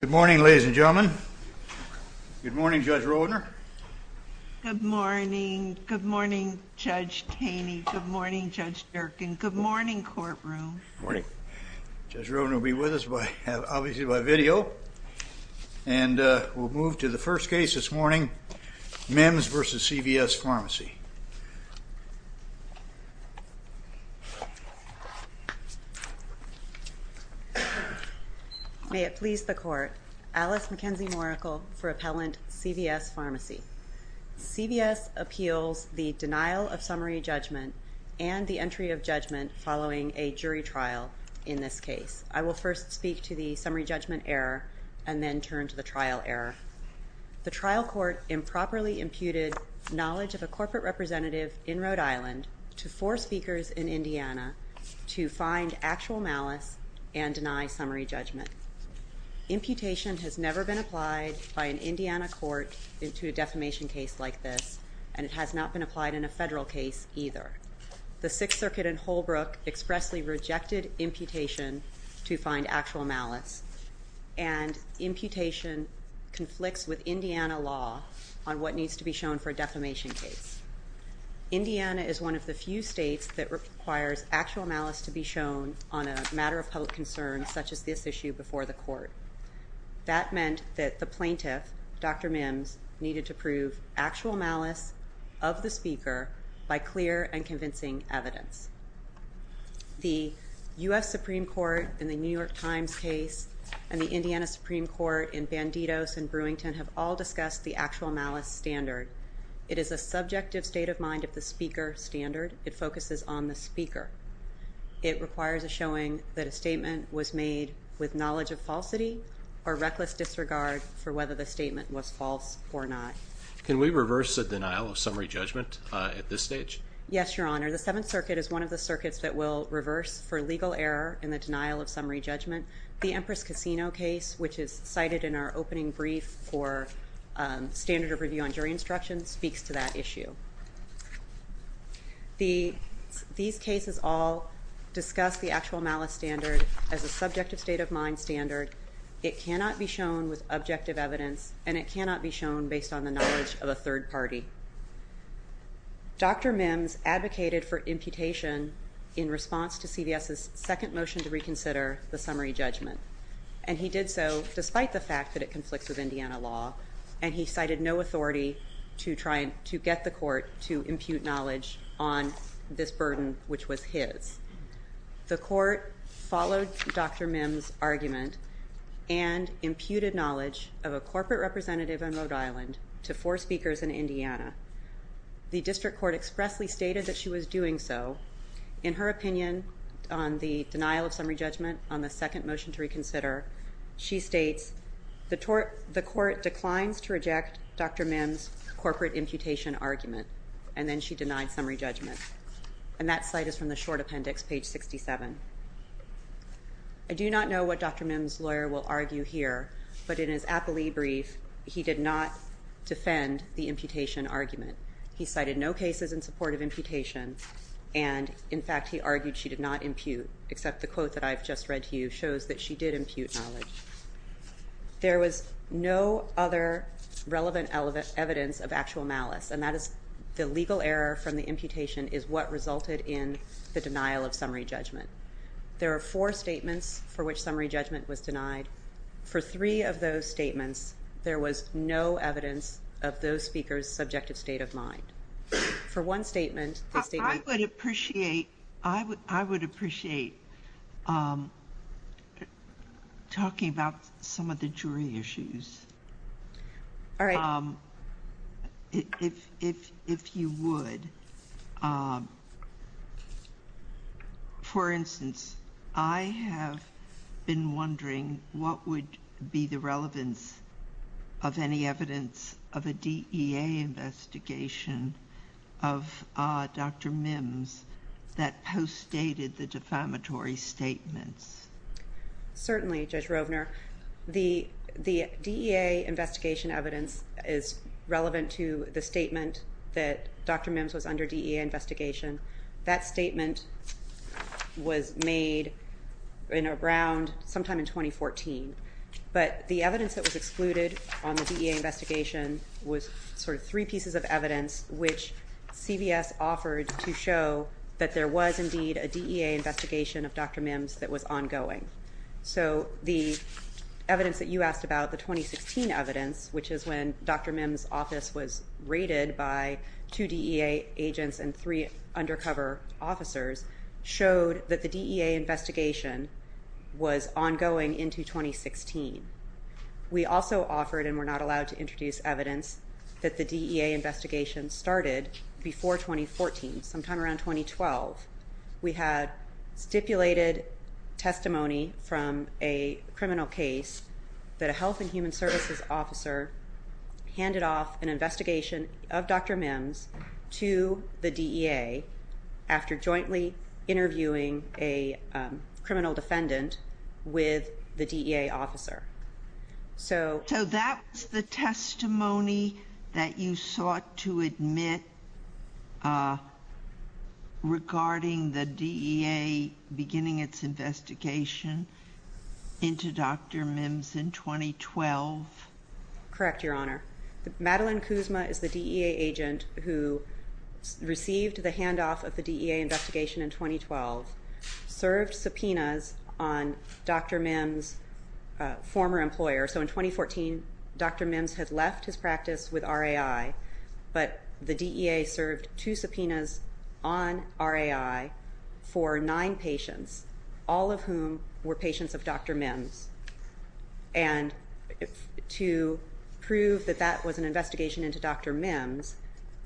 Good morning, ladies and gentlemen. Good morning, Judge Roedner. Good morning, Judge Taney. Good morning, Judge Durkin. Good morning, courtroom. Judge Roedner will be with us obviously by video, and we'll move to the first case this morning, Mimms v. CVS Pharmacy. May it please the Court. Alice McKenzie-Moricle for Appellant, CVS Pharmacy. CVS appeals the denial of summary judgment and the entry of judgment following a jury trial in this case. I will first speak to the summary judgment error and then turn to the trial error. The trial court improperly imputed knowledge of a corporate representative in Rhode Island to four speakers in Indiana to find actual malice and deny summary judgment. Imputation has never been applied by an Indiana court to a defamation case like this, and it has not been applied in a federal case either. The Sixth Circuit in Holbrook expressly rejected imputation to find actual malice, and imputation conflicts with Indiana law on what needs to be shown for a defamation case. Indiana is one of the few states that requires actual malice to be shown on a matter of public concern such as this issue before the Court. That meant that the plaintiff, Dr. Mimms, needed to prove actual malice of the speaker by clear and convincing evidence. The U.S. Supreme Court in the New York Times case and the Indiana Supreme Court in Bandidos and Brewington have all discussed the actual malice standard. It is a subjective state of mind of the speaker standard. It focuses on the speaker. It requires a showing that a statement was made with knowledge of falsity or reckless disregard for whether the statement was false or not. Can we reverse the denial of summary judgment at this stage? Yes, Your Honor. The Seventh Circuit is one of the circuits that will reverse for legal error in the denial of summary judgment. The Empress Casino case, which is cited in our opening brief for standard of review on jury instruction, speaks to that issue. These cases all discuss the actual malice standard as a subjective state of mind standard. It cannot be shown with objective evidence, and it cannot be shown based on the knowledge of a third party. Dr. Mimms advocated for imputation in response to CVS's second motion to reconsider the summary judgment, and he did so despite the fact that it conflicts with Indiana law, and he cited no authority to get the Court to impute knowledge on this burden, which was his. The Court followed Dr. Mimms' argument and imputed knowledge of a corporate representative in Rhode Island to four speakers in Indiana. The District Court expressly stated that she was doing so. In her opinion on the denial of summary judgment on the second motion to reconsider, she states, the Court declines to reject Dr. Mimms' corporate imputation argument, and then she denied summary judgment. And that cite is from the short appendix, page 67. I do not know what Dr. Mimms' lawyer will argue here, but in his appellee brief, he did not defend the imputation argument. He cited no cases in support of imputation, and, in fact, he argued she did not impute, except the quote that I've just read to you shows that she did impute knowledge. There was no other relevant evidence of actual malice, and that is the legal error from the imputation is what resulted in the denial of summary judgment. There are four statements for which summary judgment was denied. For three of those statements, there was no evidence of those speakers' subjective state of mind. For one statement, the statement… I would appreciate talking about some of the jury issues. All right. If you would, for instance, I have been wondering what would be the relevance of any evidence of a DEA investigation of Dr. Mimms that postdated the defamatory statements. Certainly, Judge Rovner. The DEA investigation evidence is relevant to the statement that Dr. Mimms was under DEA investigation. That statement was made in around sometime in 2014. But the evidence that was excluded on the DEA investigation was sort of three pieces of evidence which CVS offered to show that there was indeed a DEA investigation of Dr. Mimms that was ongoing. So the evidence that you asked about, the 2016 evidence, which is when Dr. Mimms' office was raided by two DEA agents and three undercover officers, showed that the DEA investigation was ongoing into 2016. We also offered and were not allowed to introduce evidence that the DEA investigation started before 2014, sometime around 2012. We had stipulated testimony from a criminal case that a health and human services officer handed off an investigation of Dr. Mimms to the DEA after jointly interviewing a criminal defendant with the DEA officer. So that's the testimony that you sought to admit regarding the DEA beginning its investigation into Dr. Mimms in 2012? Correct, Your Honor. Madeline Kuzma is the DEA agent who received the handoff of the DEA investigation in 2012, served subpoenas on Dr. Mimms' former employer. So in 2014, Dr. Mimms had left his practice with RAI, but the DEA served two subpoenas on RAI for nine patients, all of whom were patients of Dr. Mimms. And to prove that that was an investigation into Dr. Mimms,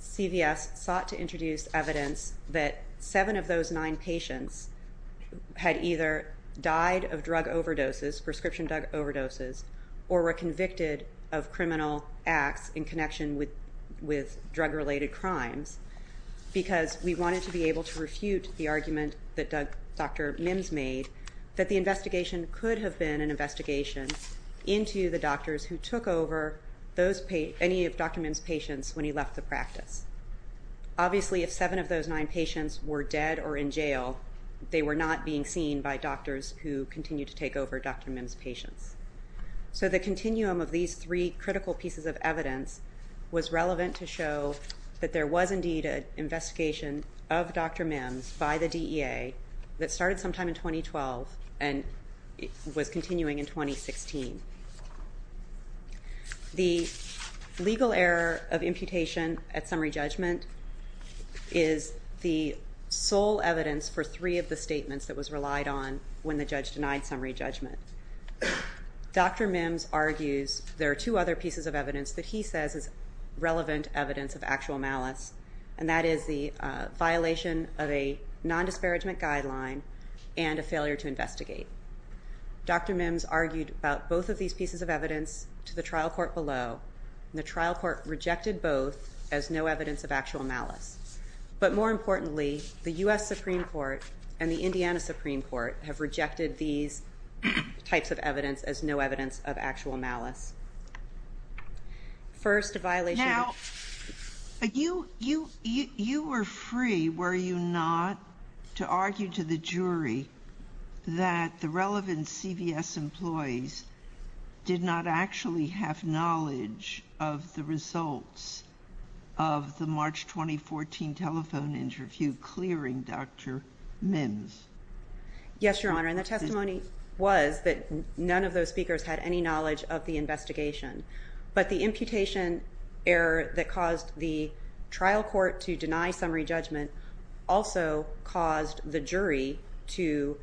CVS sought to introduce evidence that seven of those nine patients had either died of drug overdoses, prescription drug overdoses, or were convicted of criminal acts in connection with drug-related crimes, because we wanted to be able to refute the argument that Dr. Mimms made that the investigation could have been an investigation into the doctors who took over any of Dr. Mimms' patients when he left the practice. Obviously, if seven of those nine patients were dead or in jail, they were not being seen by doctors who continued to take over Dr. Mimms' patients. So the continuum of these three critical pieces of evidence was relevant to show that there was indeed an investigation of Dr. Mimms by the DEA that started sometime in 2012 and was continuing in 2016. The legal error of imputation at summary judgment is the sole evidence for three of the statements that was relied on when the judge denied summary judgment. Dr. Mimms argues there are two other pieces of evidence that he says is relevant evidence of actual malice, and that is the violation of a non-disparagement guideline and a failure to investigate. Dr. Mimms argued about both of these pieces of evidence to the trial court below, and the trial court rejected both as no evidence of actual malice. But more importantly, the U.S. Supreme Court and the Indiana Supreme Court have rejected these types of evidence as no evidence of actual malice. Now, you were free, were you not, to argue to the jury that the relevant CVS employees did not actually have knowledge of the results of the March 2014 telephone interview clearing Dr. Mimms? Yes, Your Honor, and the testimony was that none of those speakers had any knowledge of the investigation. But the imputation error that caused the trial court to deny summary judgment also caused the jury to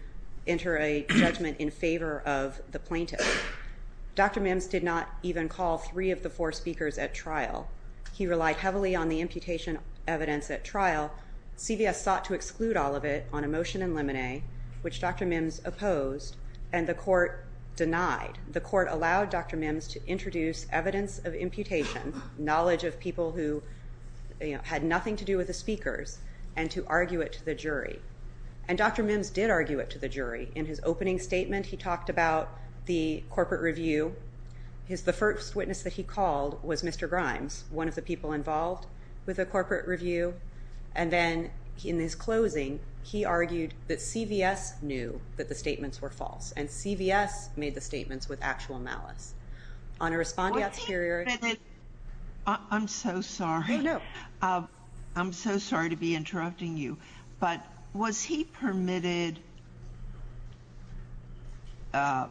enter a judgment in favor of the plaintiff. Dr. Mimms did not even call three of the four speakers at trial. He relied heavily on the imputation evidence at trial. CVS sought to exclude all of it on a motion in limine, which Dr. Mimms opposed, and the court denied. The court allowed Dr. Mimms to introduce evidence of imputation, knowledge of people who had nothing to do with the speakers, and to argue it to the jury. And Dr. Mimms did argue it to the jury. In his opening statement, he talked about the corporate review. The first witness that he called was Mr. Grimes, one of the people involved with the corporate review. And then in his closing, he argued that CVS knew that the statements were false, and CVS made the statements with actual malice. I'm so sorry. I'm so sorry to be interrupting you. But was he permitted to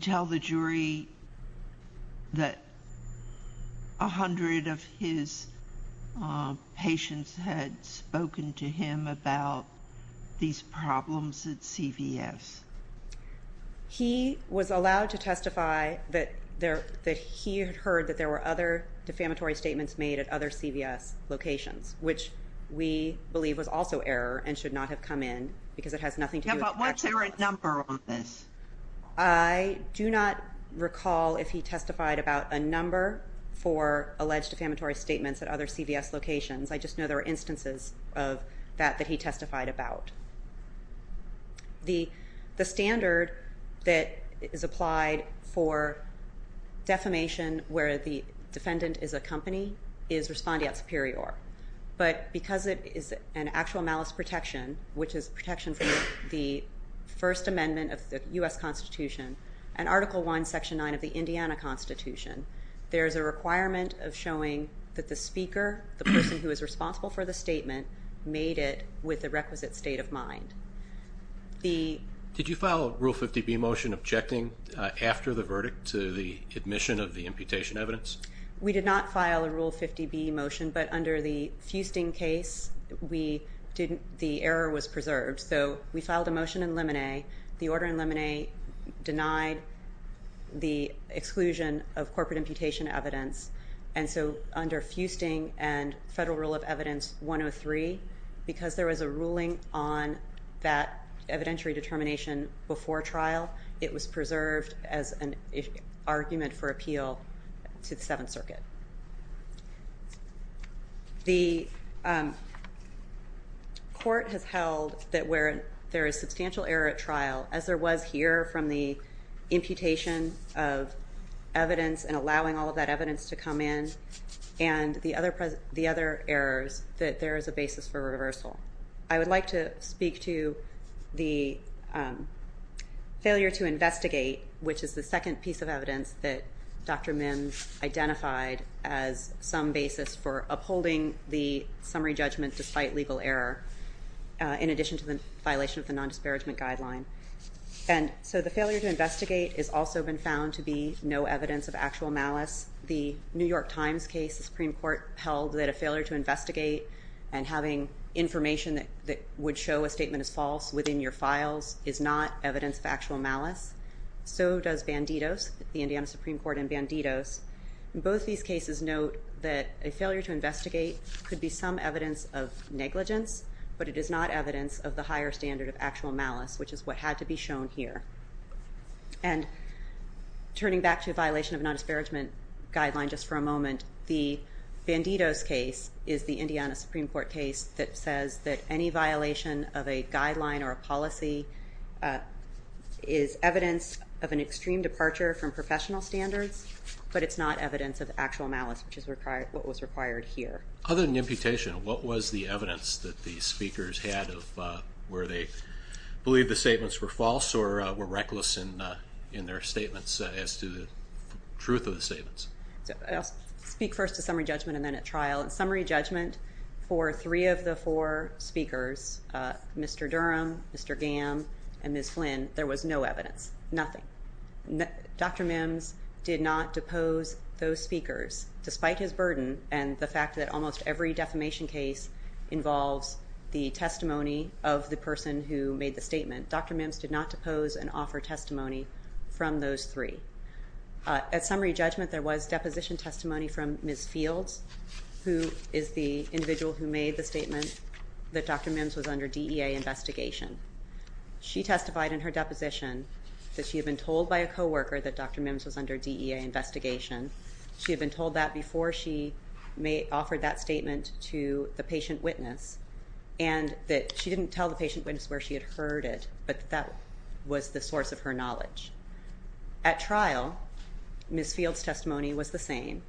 tell the jury that a hundred of his patients had spoken to him about these problems at CVS? He was allowed to testify that he had heard that there were other defamatory statements made at other CVS locations, which we believe was also error and should not have come in, because it has nothing to do with facts. Yeah, but what's their number on this? I do not recall if he testified about a number for alleged defamatory statements at other CVS locations. I just know there were instances of that that he testified about. The standard that is applied for defamation where the defendant is a company is respondeat superior. But because it is an actual malice protection, which is protection from the First Amendment of the U.S. Constitution and Article I, Section 9 of the Indiana Constitution, there is a requirement of showing that the speaker, the person who is responsible for the statement, made it with the requisite state of mind. Did you file a Rule 50B motion objecting after the verdict to the admission of the imputation evidence? We did not file a Rule 50B motion, but under the Fusting case, the error was preserved. So we filed a motion in limine. The order in limine denied the exclusion of corporate imputation evidence. And so under Fusting and Federal Rule of Evidence 103, because there was a ruling on that evidentiary determination before trial, it was preserved as an argument for appeal to the Seventh Circuit. The court has held that where there is substantial error at trial, as there was here from the imputation of evidence and allowing all of that evidence to come in, and the other errors, that there is a basis for reversal. I would like to speak to the failure to investigate, which is the second piece of evidence that Dr. Mims identified as some basis for upholding the summary judgment despite legal error, in addition to the violation of the nondisparagement guideline. And so the failure to investigate has also been found to be no evidence of actual malice. The New York Times case, the Supreme Court held that a failure to investigate and having information that would show a statement is false within your files is not evidence of actual malice. So does Bandidos, the Indiana Supreme Court and Bandidos. Both these cases note that a failure to investigate could be some evidence of negligence, but it is not evidence of the higher standard of actual malice, which is what had to be shown here. And turning back to the violation of nondisparagement guideline just for a moment, the Bandidos case is the Indiana Supreme Court case that says that any violation of a guideline or a policy is evidence of an extreme departure from professional standards, but it's not evidence of actual malice, which is what was required here. Other than imputation, what was the evidence that the speakers had of where they believed the statements were false or were reckless in their statements as to the truth of the statements? I'll speak first to summary judgment and then at trial. In summary judgment, for three of the four speakers, Mr. Durham, Mr. Gamm, and Ms. Flynn, there was no evidence. Nothing. Dr. Mims did not depose those speakers despite his burden and the fact that almost every defamation case involves the testimony of the person who made the statement. Dr. Mims did not depose and offer testimony from those three. At summary judgment, there was deposition testimony from Ms. Fields, who is the individual who made the statement that Dr. Mims was under DEA investigation. She testified in her deposition that she had been told by a co-worker that Dr. Mims was under DEA investigation. She had been told that before she offered that statement to the patient witness and that she didn't tell the patient witness where she had heard it, but that was the source of her knowledge. At trial, Ms. Fields' testimony was the same.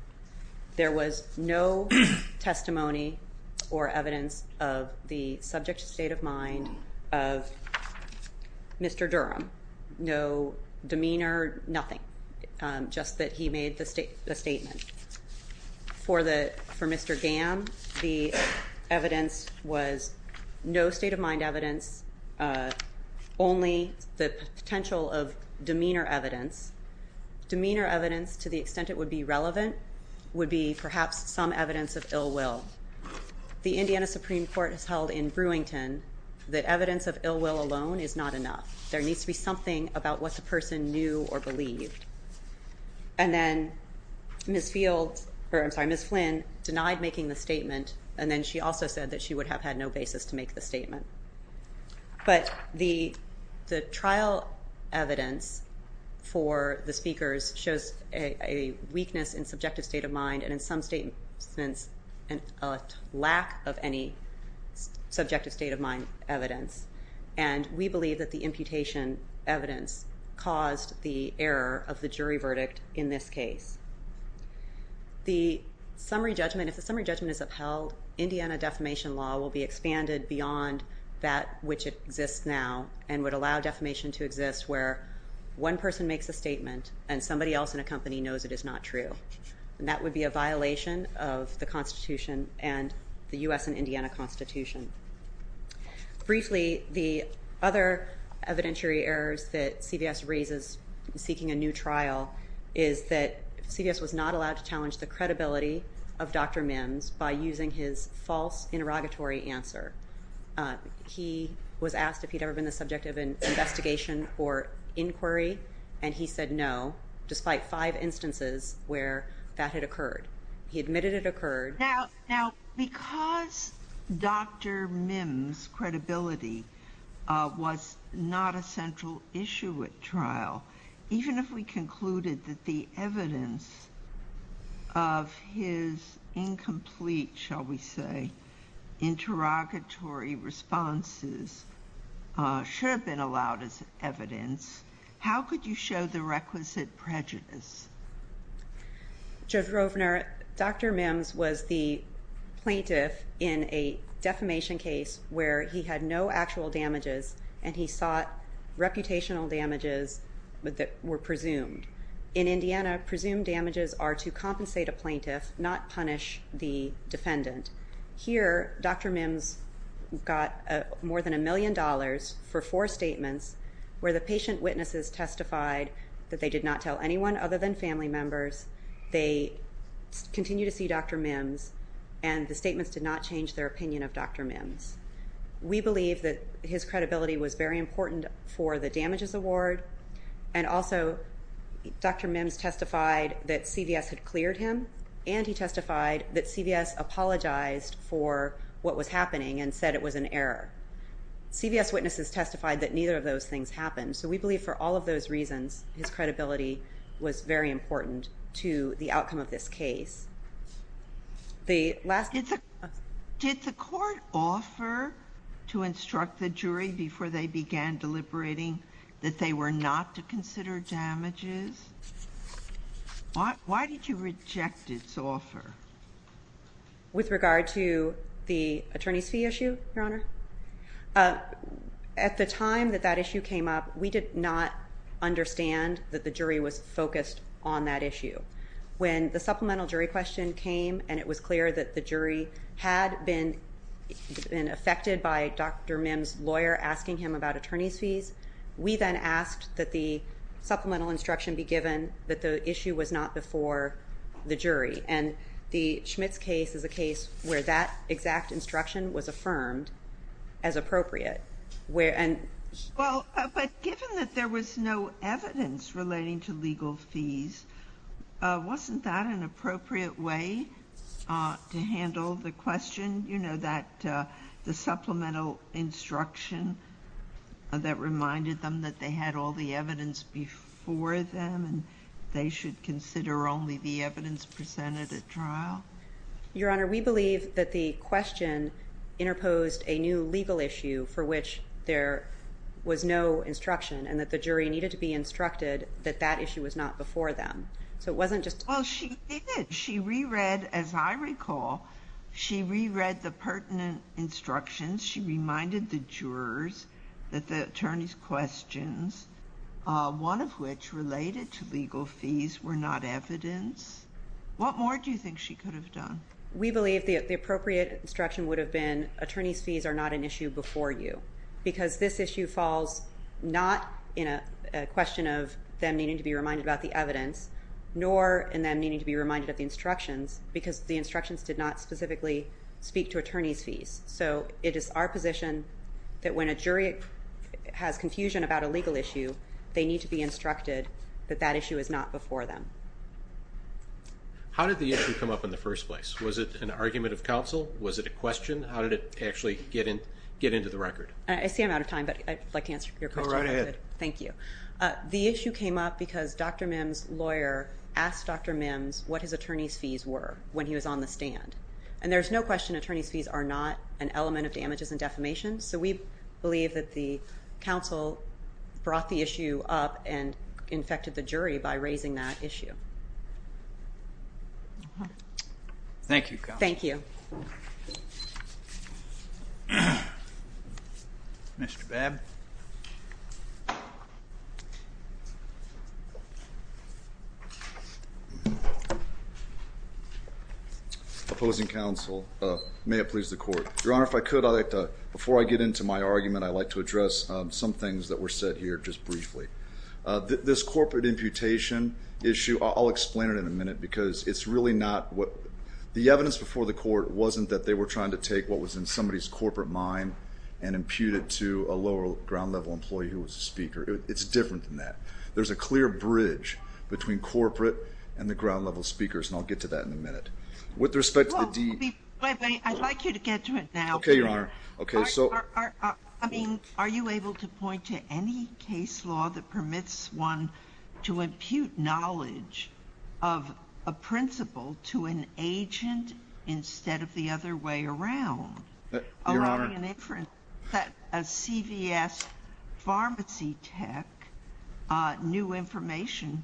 There was no testimony or evidence of the subject state of mind of Mr. Durham. No demeanor, nothing. Just that he made the statement. For Mr. Gamm, the evidence was no state of mind evidence, only the potential of demeanor evidence. Demeanor evidence, to the extent it would be relevant, would be perhaps some evidence of ill will. The Indiana Supreme Court has held in Brewington that evidence of ill will alone is not enough. There needs to be something about what the person knew or believed. And then Ms. Fields, or I'm sorry, Ms. Flynn, denied making the statement and then she also said that she would have had no basis to make the statement. But the trial evidence for the speakers shows a weakness in subjective state of mind and in some statements a lack of any subjective state of mind evidence. And we believe that the imputation evidence caused the error of the jury verdict in this case. The summary judgment, if the summary judgment is upheld, Indiana defamation law will be expanded beyond that which exists now and would allow defamation to exist where one person makes a statement and somebody else in a company knows it is not true. And that would be a violation of the Constitution and the U.S. and Indiana Constitution. Briefly, the other evidentiary errors that CVS raises seeking a new trial is that CVS was not allowed to challenge the credibility of Dr. Mims by using his false interrogatory answer. He was asked if he'd ever been the subject of an investigation or inquiry and he said no, despite five instances where that had occurred. He admitted it occurred. Now, because Dr. Mims' credibility was not a central issue at trial, even if we concluded that the evidence of his incomplete, shall we say, interrogatory responses should have been allowed as evidence, how could you show the requisite prejudice? Judge Rovner, Dr. Mims was the plaintiff in a defamation case where he had no actual damages and he sought reputational damages that were presumed. In Indiana, presumed damages are to compensate a plaintiff, not punish the defendant. Here, Dr. Mims got more than a million dollars for four statements where the patient witnesses testified that they did not tell anyone other than family members. They continued to see Dr. Mims and the statements did not change their opinion of Dr. Mims. We believe that his credibility was very important for the damages award and also Dr. Mims testified that CVS had cleared him and he testified that CVS apologized for what was happening and said it was an error. CVS witnesses testified that neither of those things happened, so we believe for all of those reasons his credibility was very important to the outcome of this case. Did the court offer to instruct the jury before they began deliberating that they were not to consider damages? Why did you reject its offer? With regard to the attorney's fee issue, Your Honor? At the time that that issue came up, we did not understand that the jury was focused on that issue. When the supplemental jury question came and it was clear that the jury had been affected by Dr. Mims' lawyer asking him about attorney's fees, we then asked that the supplemental instruction be given that the issue was not before the jury and the Schmitz case is a case where that exact instruction was affirmed as appropriate. But given that there was no evidence relating to legal fees, wasn't that an appropriate way to handle the question? You know, the supplemental instruction that reminded them that they had all the evidence before them and they should consider only the evidence presented at trial? Your Honor, we believe that the question interposed a new legal issue for which there was no instruction and that the jury needed to be instructed that that issue was not before them. Well, she did. She reread, as I recall, she reread the pertinent instructions. She reminded the jurors that the attorney's questions, one of which related to legal fees, were not evidence. What more do you think she could have done? We believe the appropriate instruction would have been attorney's fees are not an issue before you because this issue falls not in a question of them needing to be reminded about the evidence nor in them needing to be reminded of the instructions So it is our position that when a jury has confusion about a legal issue, they need to be instructed that that issue is not before them. How did the issue come up in the first place? Was it an argument of counsel? Was it a question? How did it actually get into the record? I see I'm out of time, but I'd like to answer your question. Go right ahead. Thank you. The issue came up because Dr. Mims's lawyer asked Dr. Mims what his attorney's fees were when he was on the stand. And there's no question attorney's fees are not an element of damages and defamation. So we believe that the counsel brought the issue up and infected the jury by raising that issue. Thank you. Thank you. Mr. Babb. Okay. Opposing counsel, may it please the court. Your Honor, if I could, I'd like to, before I get into my argument, I'd like to address some things that were said here just briefly. This corporate imputation issue, I'll explain it in a minute because it's really not what, the evidence before the court wasn't that they were trying to take what was in somebody's corporate mind and impute it to a lower ground level employee who was a speaker. It's different than that. There's a clear bridge between corporate and the ground level speakers, and I'll get to that in a minute. With respect to the D- Wait, wait. I'd like you to get to it now. Okay, Your Honor. I mean, are you able to point to any case law that permits one to impute knowledge of a principle to an agent instead of the other way around? Your Honor. I'm getting an inference that a CVS pharmacy tech knew information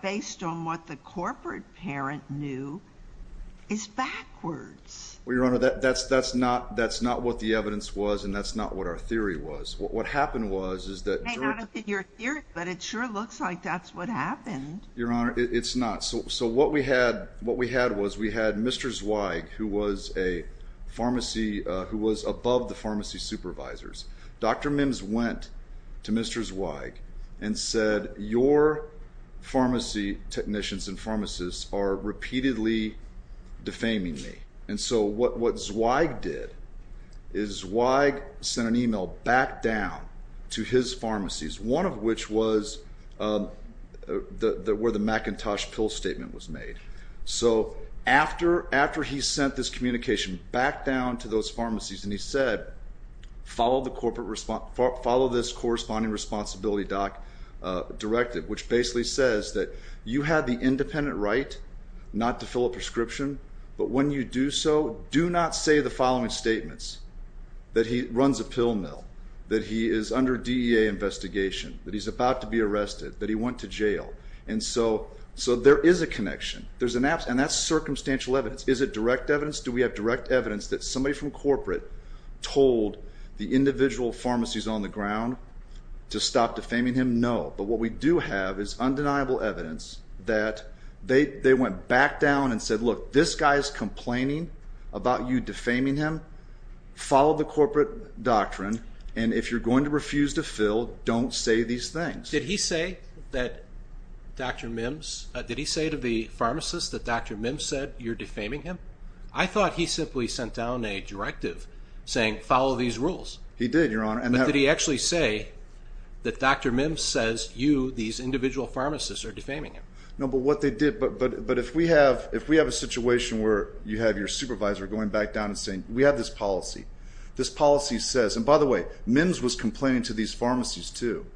based on what the corporate parent knew is backwards. Well, Your Honor, that's not what the evidence was, and that's not what our theory was. What happened was is that- It may not have been your theory, but it sure looks like that's what happened. Your Honor, it's not. So what we had was we had Mr. Zweig, who was above the pharmacy supervisors. Dr. Mims went to Mr. Zweig and said, Your pharmacy technicians and pharmacists are repeatedly defaming me. And so what Zweig did is Zweig sent an email back down to his pharmacies, one of which was where the McIntosh pill statement was made. So after he sent this communication back down to those pharmacies and he said, Follow this corresponding responsibility doc directive, which basically says that you have the independent right not to fill a prescription, but when you do so, do not say the following statements, that he runs a pill mill, that he is under DEA investigation, that he's about to be arrested, that he went to jail. And so there is a connection. And that's circumstantial evidence. Is it direct evidence? Do we have direct evidence that somebody from corporate told the individual pharmacies on the ground to stop defaming him? No. But what we do have is undeniable evidence that they went back down and said, Look, this guy is complaining about you defaming him. Follow the corporate doctrine. And if you're going to refuse to fill, don't say these things. Did he say that Dr. Mims, did he say to the pharmacist that Dr. Mims said you're defaming him? I thought he simply sent down a directive saying follow these rules. He did, Your Honor. But did he actually say that Dr. Mims says you, these individual pharmacists, are defaming him? No, but what they did, but if we have a situation where you have your supervisor going back down and saying we have this policy, this policy says, and by the way, Mims was complaining to these pharmacies, too,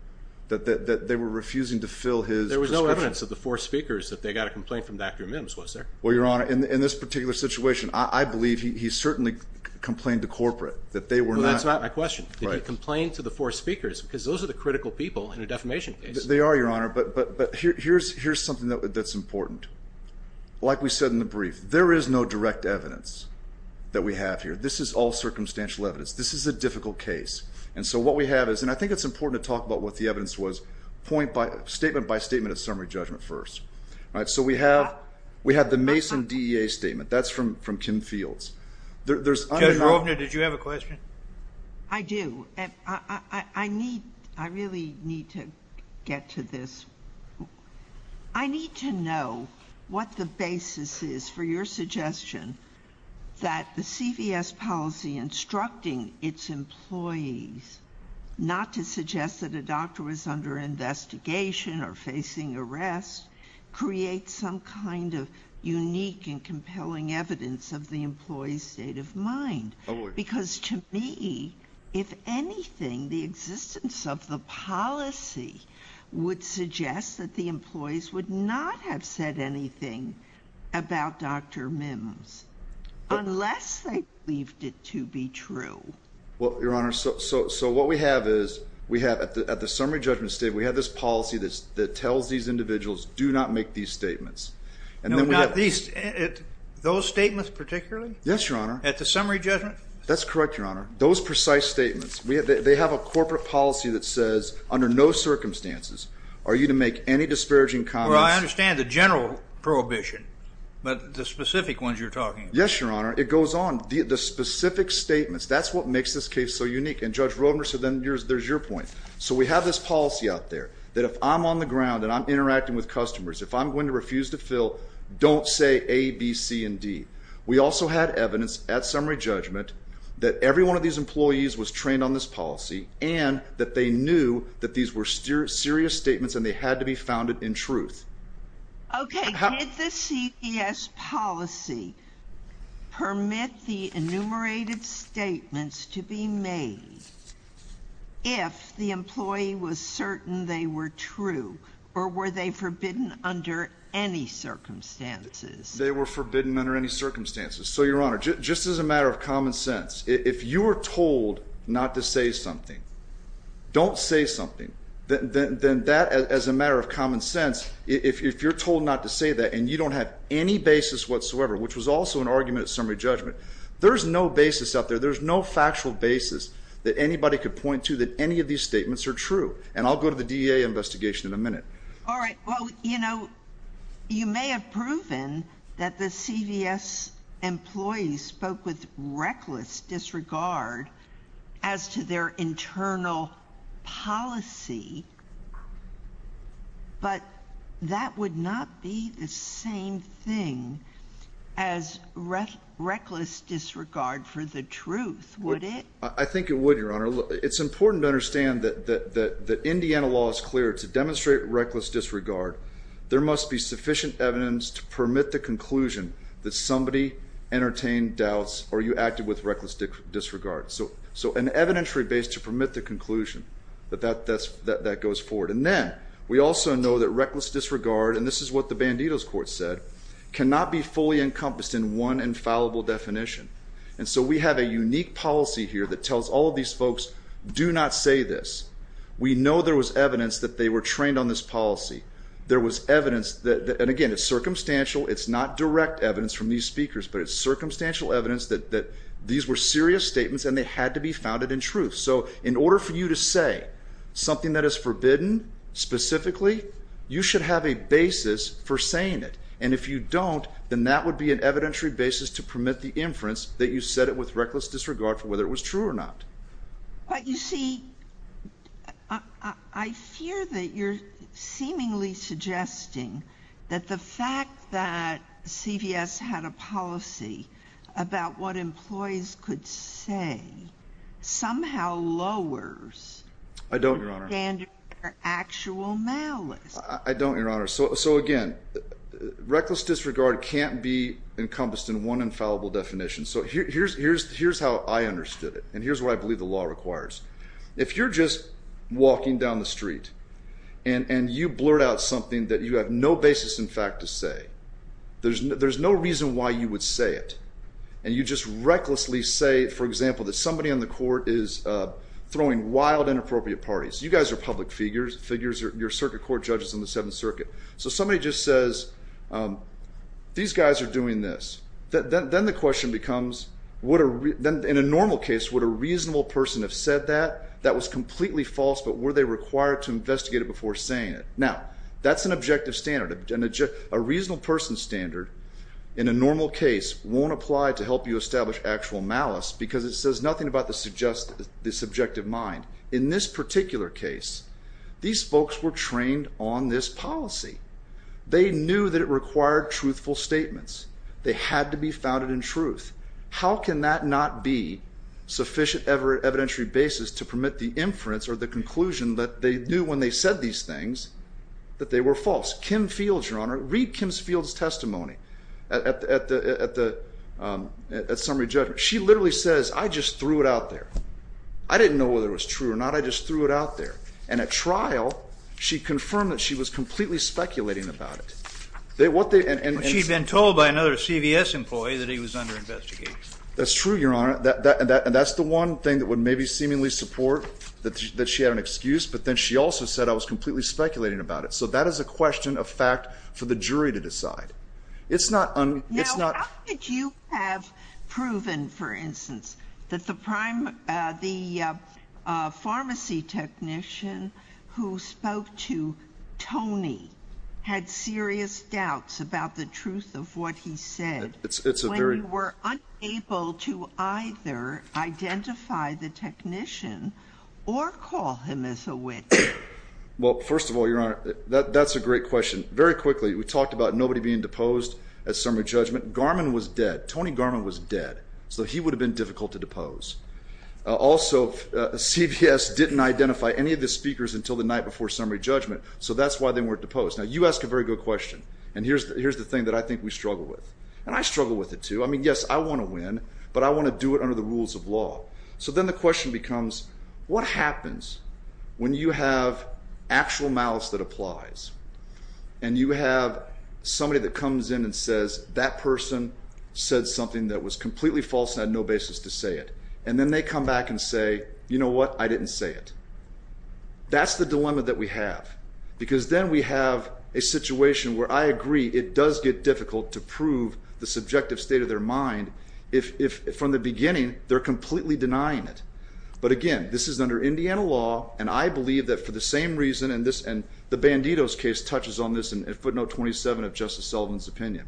that they were refusing to fill his prescription. There was no evidence of the four speakers that they got a complaint from Dr. Mims, was there? Well, Your Honor, in this particular situation, I believe he certainly complained to corporate that they were not. That's not my question. Did he complain to the four speakers? Because those are the critical people in a defamation case. They are, Your Honor, but here's something that's important. Like we said in the brief, there is no direct evidence that we have here. This is all circumstantial evidence. This is a difficult case. And so what we have is, and I think it's important to talk about what the evidence was, point by statement by statement of summary judgment first. So we have the Mason DEA statement. That's from Kim Fields. Judge Rovner, did you have a question? I do. I really need to get to this. I need to know what the basis is for your suggestion that the CVS policy instructing its employees not to suggest that a doctor was under investigation or facing arrest creates some kind of unique and compelling evidence of the employee's state of mind? Oh, boy. Because to me, if anything, the existence of the policy would suggest that the employees would not have said anything about Dr. Mims unless they believed it to be true. Well, Your Honor, so what we have is we have at the summary judgment statement, we have this policy that tells these individuals do not make these statements. And then we have these. Those statements particularly? Yes, Your Honor. At the summary judgment? That's correct, Your Honor. Those precise statements. They have a corporate policy that says under no circumstances are you to make any disparaging comments. Well, I understand the general prohibition, but the specific ones you're talking about. Yes, Your Honor. It goes on. The specific statements, that's what makes this case so unique. And Judge Rodenberg, so then there's your point. So we have this policy out there that if I'm on the ground and I'm interacting with customers, if I'm going to refuse to fill, don't say A, B, C, and D. We also had evidence at summary judgment that every one of these employees was trained on this policy and that they knew that these were serious statements and they had to be founded in truth. Okay. Did the CPS policy permit the enumerated statements to be made if the employee was certain they were true or were they forbidden under any circumstances? They were forbidden under any circumstances. So, Your Honor, just as a matter of common sense, if you are told not to say something, don't say something, then that, as a matter of common sense, if you're told not to say that and you don't have any basis whatsoever, which was also an argument at summary judgment, there's no basis out there. There's no factual basis that anybody could point to that any of these statements are true. And I'll go to the DEA investigation in a minute. All right. Well, you know, you may have proven that the CVS employees spoke with reckless disregard as to their internal policy, but that would not be the same thing as reckless disregard for the truth, would it? I think it would, Your Honor. It's important to understand that Indiana law is clear to demonstrate reckless disregard. There must be sufficient evidence to permit the conclusion that somebody entertained doubts or you acted with reckless disregard. So an evidentiary base to permit the conclusion that that goes forward. And then we also know that reckless disregard, and this is what the Banditos Court said, cannot be fully encompassed in one infallible definition. And so we have a unique policy here that tells all of these folks, do not say this. We know there was evidence that they were trained on this policy. There was evidence that, and again, it's circumstantial. It's not direct evidence from these speakers, but it's circumstantial evidence that these were serious statements and they had to be founded in truth. So in order for you to say something that is forbidden, specifically, you should have a basis for saying it. And if you don't, then that would be an evidentiary basis to permit the inference that you said it with reckless disregard for whether it was true or not. But you see, I fear that you're seemingly suggesting that the fact that CVS had a policy about what employees could say somehow lowers the standard for actual malice. I don't, Your Honor. So again, reckless disregard can't be encompassed in one infallible definition. So here's how I understood it. And here's what I believe the law requires. If you're just walking down the street and you blurt out something that you have no basis in fact to say, there's no reason why you would say it. And you just recklessly say, for example, that somebody on the court is throwing wild inappropriate parties. You guys are public figures. Your circuit court judge is in the Seventh Circuit. So somebody just says, these guys are doing this. Then the question becomes, in a normal case, would a reasonable person have said that? That was completely false, but were they required to investigate it before saying it? Now, that's an objective standard. A reasonable person's standard in a normal case won't apply to help you establish actual malice because it says nothing about the subjective mind. In this particular case, these folks were trained on this policy. They knew that it required truthful statements. They had to be founded in truth. How can that not be sufficient evidentiary basis to permit the inference or the conclusion that they knew when they said these things that they were false? Kim Fields, Your Honor, read Kim Fields' testimony at summary judgment. She literally says, I just threw it out there. I didn't know whether it was true or not. I just threw it out there. And at trial, she confirmed that she was completely speculating about it. She'd been told by another CVS employee that he was under investigation. That's true, Your Honor. That's the one thing that would maybe seemingly support that she had an excuse, but then she also said, I was completely speculating about it. So that is a question of fact for the jury to decide. Now, how could you have proven, for instance, that the pharmacy technician who spoke to Tony had serious doubts about the truth of what he said when you were unable to either identify the technician or call him as a witch? Well, first of all, Your Honor, that's a great question. Very quickly, we talked about nobody being deposed at summary judgment. Garman was dead. Tony Garman was dead, so he would have been difficult to depose. Also, CVS didn't identify any of the speakers until the night before summary judgment, so that's why they weren't deposed. Now, you ask a very good question, and here's the thing that I think we struggle with, and I struggle with it too. I mean, yes, I want to win, but I want to do it under the rules of law. So then the question becomes, what happens when you have actual malice that applies and you have somebody that comes in and says, that person said something that was completely false and had no basis to say it, and then they come back and say, you know what, I didn't say it? That's the dilemma that we have, because then we have a situation where I agree it does get difficult to prove the subjective state of their mind if from the beginning they're completely denying it. But again, this is under Indiana law, and I believe that for the same reason, and the Banditos case touches on this in footnote 27 of Justice Sullivan's opinion.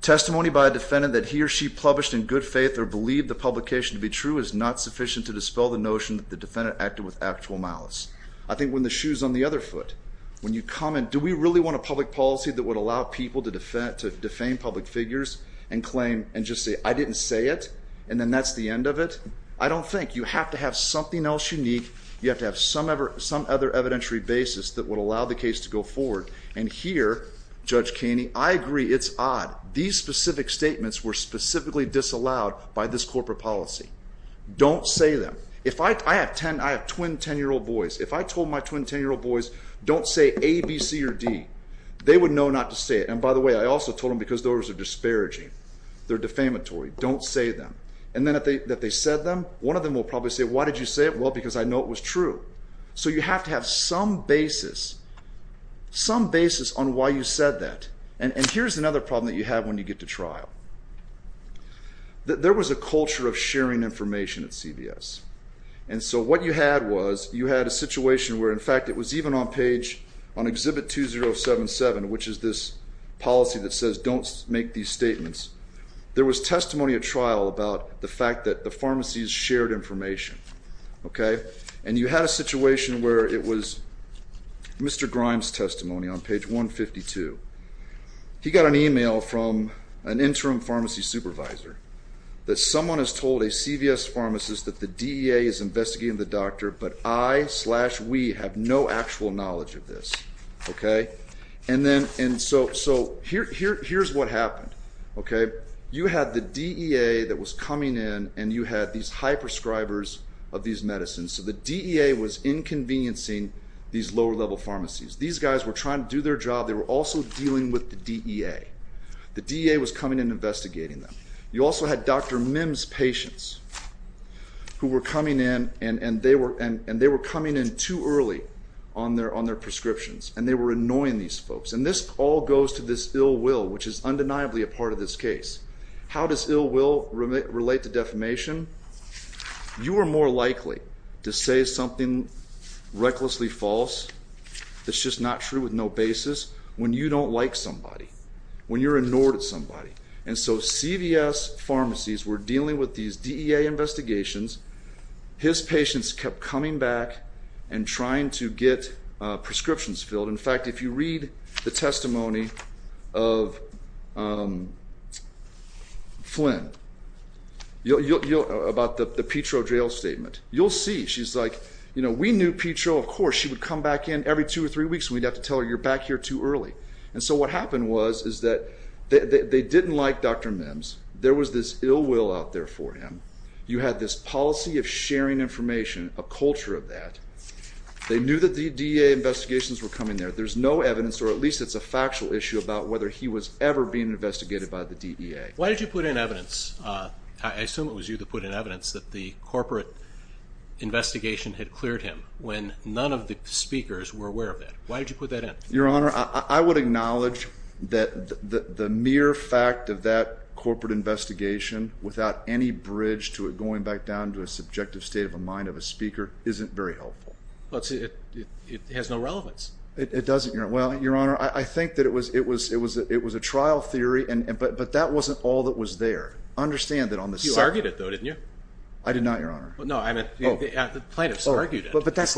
Testimony by a defendant that he or she published in good faith or believed the publication to be true is not sufficient to dispel the notion that the defendant acted with actual malice. I think when the shoe's on the other foot, when you come and do we really want a public policy that would allow people to defame public figures and claim and just say, I didn't say it, and then that's the end of it? I don't think. You have to have something else unique. You have to have some other evidentiary basis that would allow the case to go forward. And here, Judge Kaney, I agree it's odd. These specific statements were specifically disallowed by this corporate policy. Don't say them. I have twin 10-year-old boys. If I told my twin 10-year-old boys, don't say A, B, C, or D, they would know not to say it. And by the way, I also told them because those are disparaging. They're defamatory. Don't say them. And then if they said them, one of them will probably say, why did you say it? Well, because I know it was true. So you have to have some basis, some basis on why you said that. And here's another problem that you have when you get to trial. There was a culture of sharing information at CVS. And so what you had was you had a situation where, in fact, it was even on page on Exhibit 2077, which is this policy that says don't make these statements. There was testimony at trial about the fact that the pharmacies shared information. And you had a situation where it was Mr. Grimes' testimony on page 152. He got an email from an interim pharmacy supervisor that someone has told a CVS pharmacist that the DEA is investigating the doctor, but I-slash-we have no actual knowledge of this. And so here's what happened. Okay. You had the DEA that was coming in, and you had these high prescribers of these medicines. So the DEA was inconveniencing these lower-level pharmacies. These guys were trying to do their job. They were also dealing with the DEA. The DEA was coming in and investigating them. You also had Dr. Mims' patients who were coming in, and they were coming in too early on their prescriptions, and they were annoying these folks. And this all goes to this ill will, which is undeniably a part of this case. How does ill will relate to defamation? You are more likely to say something recklessly false that's just not true with no basis when you don't like somebody, when you're annoyed at somebody. And so CVS pharmacies were dealing with these DEA investigations. His patients kept coming back and trying to get prescriptions filled. In fact, if you read the testimony of Flynn about the Petro jail statement, you'll see. She's like, you know, we knew Petro. Of course, she would come back in every two or three weeks, and we'd have to tell her you're back here too early. And so what happened was is that they didn't like Dr. Mims. There was this ill will out there for him. You had this policy of sharing information, a culture of that. They knew that the DEA investigations were coming there. There's no evidence, or at least it's a factual issue about whether he was ever being investigated by the DEA. Why did you put in evidence? I assume it was you that put in evidence that the corporate investigation had cleared him when none of the speakers were aware of it. Why did you put that in? Your Honor, I would acknowledge that the mere fact of that corporate investigation without any bridge to it going back down to a subjective state of mind of a speaker isn't very helpful. It has no relevance. It doesn't, Your Honor. Well, Your Honor, I think that it was a trial theory, but that wasn't all that was there. You argued it, though, didn't you? I did not, Your Honor. No, the plaintiffs argued it. But that's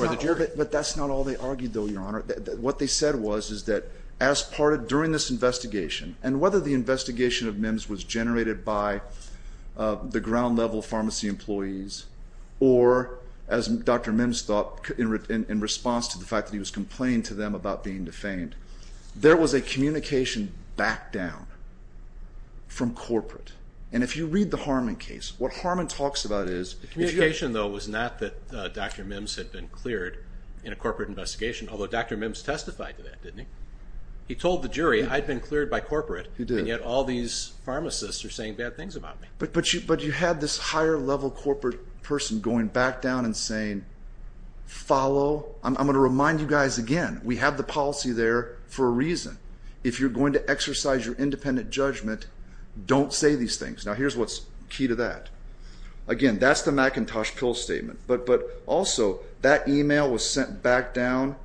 not all they argued, though, Your Honor. What they said was is that during this investigation, and whether the investigation of Mims was generated by the ground-level pharmacy employees or, as Dr. Mims thought, in response to the fact that he was complaining to them about being defamed, there was a communication back down from corporate. And if you read the Harmon case, what Harmon talks about is— The communication, though, was not that Dr. Mims had been cleared in a corporate investigation, although Dr. Mims testified to that, didn't he? He told the jury, I'd been cleared by corporate, and yet all these pharmacists are saying bad things about me. But you had this higher-level corporate person going back down and saying, follow—I'm going to remind you guys again, we have the policy there for a reason. If you're going to exercise your independent judgment, don't say these things. Now, here's what's key to that. Again, that's the McIntosh pill statement. But also, that email was sent back down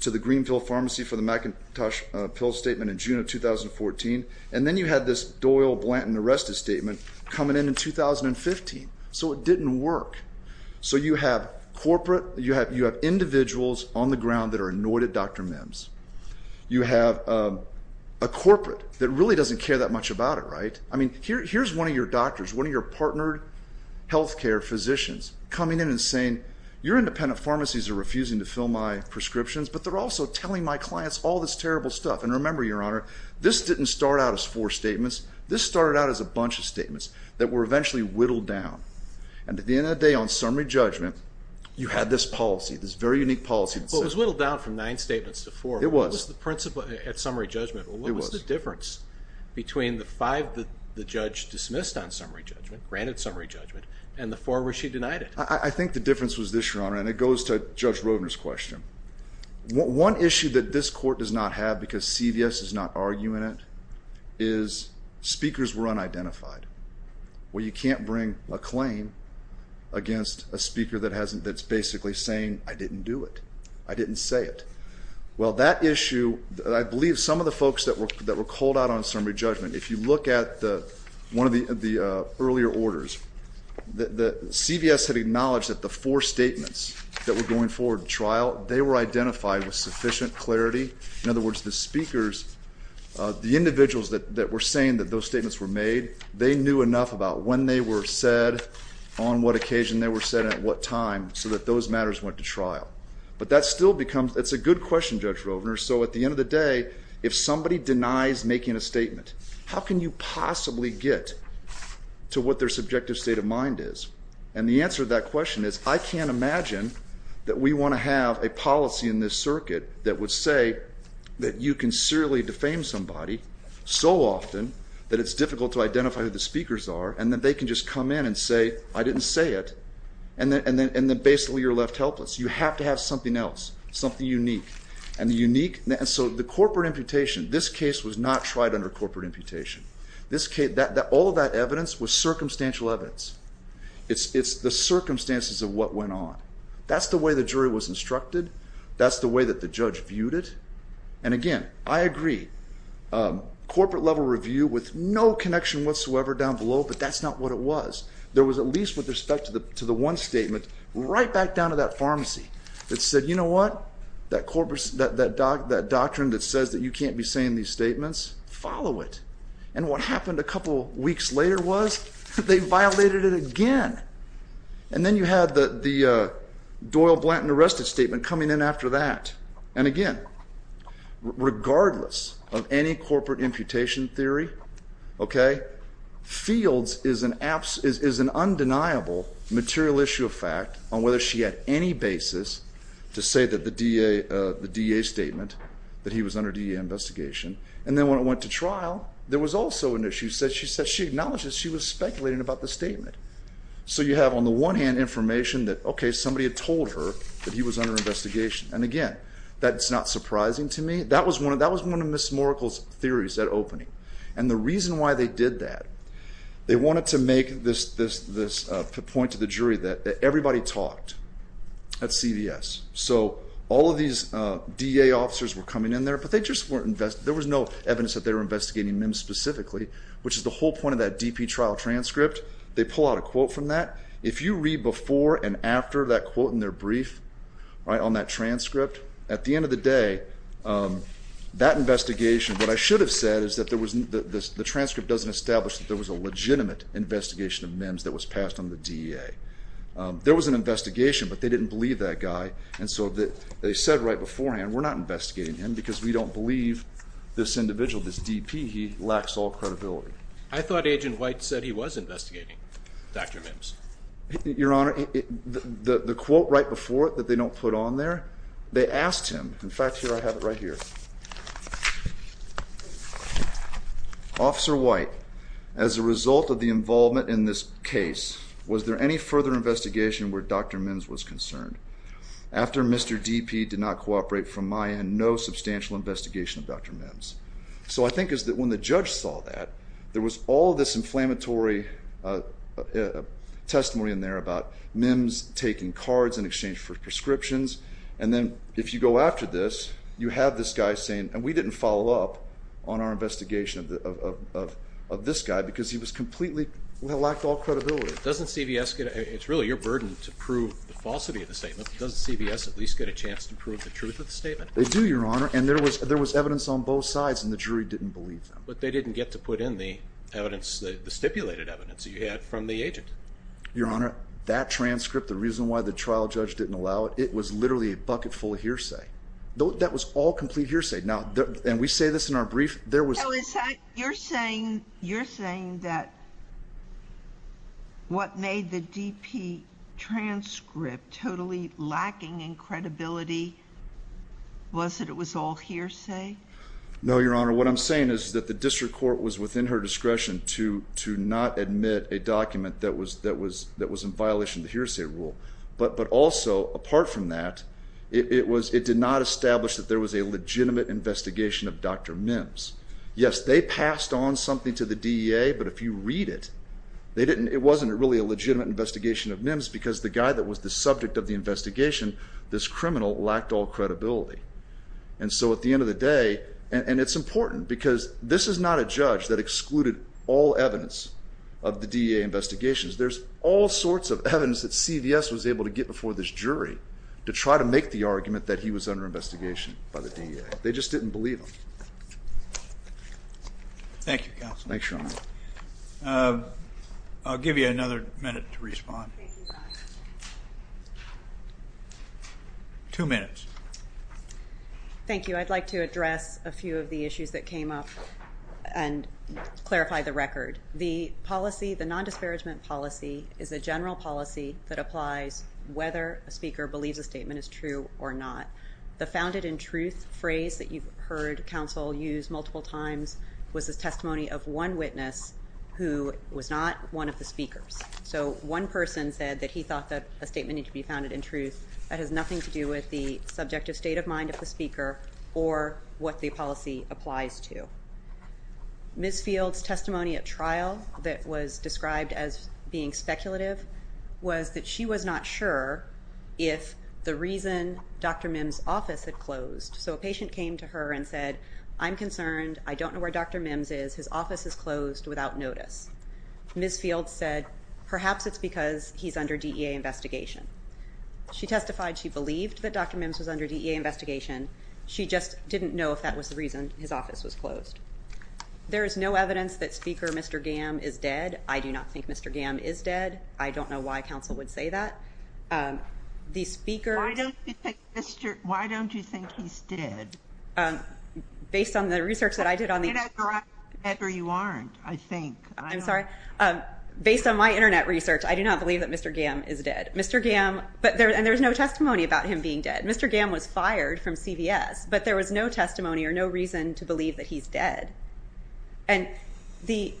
to the Greenville Pharmacy for the McIntosh pill statement in June of 2014, and then you had this Doyle Blanton arrested statement coming in in 2015. So it didn't work. So you have corporate, you have individuals on the ground that are annoyed at Dr. Mims. You have a corporate that really doesn't care that much about it, right? I mean, here's one of your doctors, one of your partnered health care physicians, coming in and saying, your independent pharmacies are refusing to fill my prescriptions, but they're also telling my clients all this terrible stuff. And remember, Your Honor, this didn't start out as four statements. This started out as a bunch of statements that were eventually whittled down. And at the end of the day, on summary judgment, you had this policy, this very unique policy. But it was whittled down from nine statements to four. It was. What was the principle at summary judgment? What was the difference between the five that the judge dismissed on summary judgment, granted summary judgment, and the four where she denied it? I think the difference was this, Your Honor, and it goes to Judge Roedner's question. One issue that this court does not have because CVS is not arguing it is speakers were unidentified. Well, you can't bring a claim against a speaker that's basically saying, I didn't do it. I didn't say it. Well, that issue, I believe some of the folks that were called out on summary judgment, if you look at one of the earlier orders, CVS had acknowledged that the four statements that were going forward to trial, they were identified with sufficient clarity. In other words, the speakers, the individuals that were saying that those statements were made, they knew enough about when they were said, on what occasion they were said, and at what time, so that those matters went to trial. But that still becomes, it's a good question, Judge Roedner, so at the end of the day, if somebody denies making a statement, how can you possibly get to what their subjective state of mind is? And the answer to that question is, I can't imagine that we want to have a policy in this circuit that would say that you can severely defame somebody so often that it's difficult to identify who the speakers are, and then they can just come in and say, I didn't say it, and then basically you're left helpless. You have to have something else, something unique. And so the corporate imputation, this case was not tried under corporate imputation. All of that evidence was circumstantial evidence. It's the circumstances of what went on. That's the way the jury was instructed. That's the way that the judge viewed it. And again, I agree, corporate-level review with no connection whatsoever down below, but that's not what it was. There was at least, with respect to the one statement, right back down to that pharmacy that said, you know what, that doctrine that says that you can't be saying these statements, follow it. And what happened a couple weeks later was they violated it again. And then you had the Doyle Blanton arrested statement coming in after that. And again, regardless of any corporate imputation theory, okay, Fields is an undeniable material issue of fact on whether she had any basis to say that the DA statement, that he was under DA investigation. And then when it went to trial, there was also an issue. She said she acknowledged that she was speculating about the statement. So you have on the one hand information that, okay, somebody had told her that he was under investigation. And again, that's not surprising to me. That was one of Ms. Moerkel's theories at opening. And the reason why they did that, they wanted to make this point to the jury that everybody talked at CVS. So all of these DA officers were coming in there, but they just weren't, there was no evidence that they were investigating them specifically, which is the whole point of that DP trial transcript. They pull out a quote from that. If you read before and after that quote in their brief, right, on that transcript, at the end of the day, that investigation, what I should have said is that there was, the transcript doesn't establish that there was a legitimate investigation of Mims that was passed on the DA. There was an investigation, but they didn't believe that guy. And so they said right beforehand, we're not investigating him because we don't believe this individual, this DP, he lacks all credibility. I thought Agent White said he was investigating Dr. Mims. Your Honor, the quote right before it that they don't put on there, they asked him. In fact, here I have it right here. Officer White, as a result of the involvement in this case, was there any further investigation where Dr. Mims was concerned? After Mr. DP did not cooperate from my end, no substantial investigation of Dr. Mims. So I think is that when the judge saw that, there was all this inflammatory testimony in there about Mims taking cards in exchange for prescriptions, and then if you go after this, you have this guy saying, and we didn't follow up on our investigation of this guy because he was completely, lacked all credibility. Doesn't CVS get, it's really your burden to prove the falsity of the statement. Doesn't CVS at least get a chance to prove the truth of the statement? They do, Your Honor, and there was evidence on both sides and the jury didn't believe them. But they didn't get to put in the evidence, the stipulated evidence you had from the agent. Your Honor, that transcript, the reason why the trial judge didn't allow it, it was literally a bucket full of hearsay. That was all complete hearsay. Now, and we say this in our brief, there was... You're saying that what made the DP transcript totally lacking in credibility was that it was all hearsay? No, Your Honor. What I'm saying is that the district court was within her discretion to not admit a document that was in violation of the hearsay rule. But also, apart from that, it did not establish that there was a legitimate investigation of Dr. Mims. Yes, they passed on something to the DEA, but if you read it, it wasn't really a legitimate investigation of Mims because the guy that was the subject of the investigation, this criminal, lacked all credibility. And so at the end of the day, and it's important because this is not a judge that excluded all evidence of the DEA investigations. There's all sorts of evidence that CVS was able to get before this jury to try to make the argument that he was under investigation by the DEA. They just didn't believe him. Thank you, Counsel. Thanks, Your Honor. I'll give you another minute to respond. Two minutes. Thank you. I'd like to address a few of the issues that came up and clarify the record. The policy, the non-disparagement policy, is a general policy that applies whether a speaker believes a statement is true or not. The founded in truth phrase that you've heard Counsel use multiple times was the testimony of one witness who was not one of the speakers. So one person said that he thought that a statement needed to be founded in truth. That has nothing to do with the subjective state of mind of the speaker or what the policy applies to. Ms. Fields' testimony at trial that was described as being speculative was that she was not sure if the reason Dr. Mims's office had closed. So a patient came to her and said, I'm concerned. I don't know where Dr. Mims is. His office is closed without notice. Ms. Fields said, perhaps it's because he's under DEA investigation. She testified she believed that Dr. Mims was under DEA investigation. She just didn't know if that was the reason his office was closed. There is no evidence that Speaker Mr. Gamm is dead. I do not think Mr. Gamm is dead. I don't know why Counsel would say that. The speaker- Why don't you think he's dead? Based on the research that I did on the- You're not correct, or you aren't, I think. I'm sorry. Based on my internet research, I do not believe that Mr. Gamm is dead. Mr. Gamm, and there's no testimony about him being dead. Mr. Gamm was fired from CVS, but there was no testimony or no reason to believe that he's dead. And the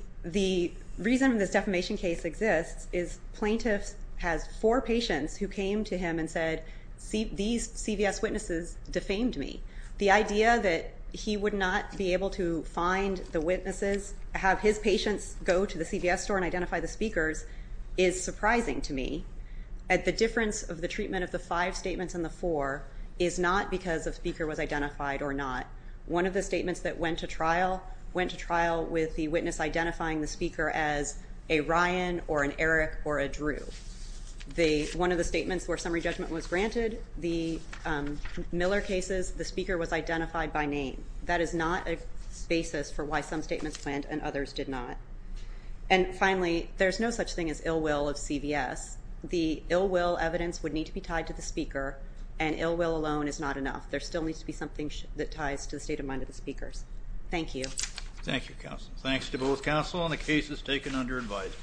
reason this defamation case exists is plaintiff has four patients who came to him and said, these CVS witnesses defamed me. The idea that he would not be able to find the witnesses, have his patients go to the CVS store and identify the speakers, is surprising to me. The difference of the treatment of the five statements and the four is not because a speaker was identified or not. One of the statements that went to trial went to trial with the witness identifying the speaker as a Ryan or an Eric or a Drew. One of the statements where summary judgment was granted, the Miller cases, the speaker was identified by name. That is not a basis for why some statements went and others did not. And finally, there's no such thing as ill will of CVS. The ill will evidence would need to be tied to the speaker, and ill will alone is not enough. There still needs to be something that ties to the state of mind of the speakers. Thank you. Thank you, counsel. Thanks to both counsel and the cases taken under advisement.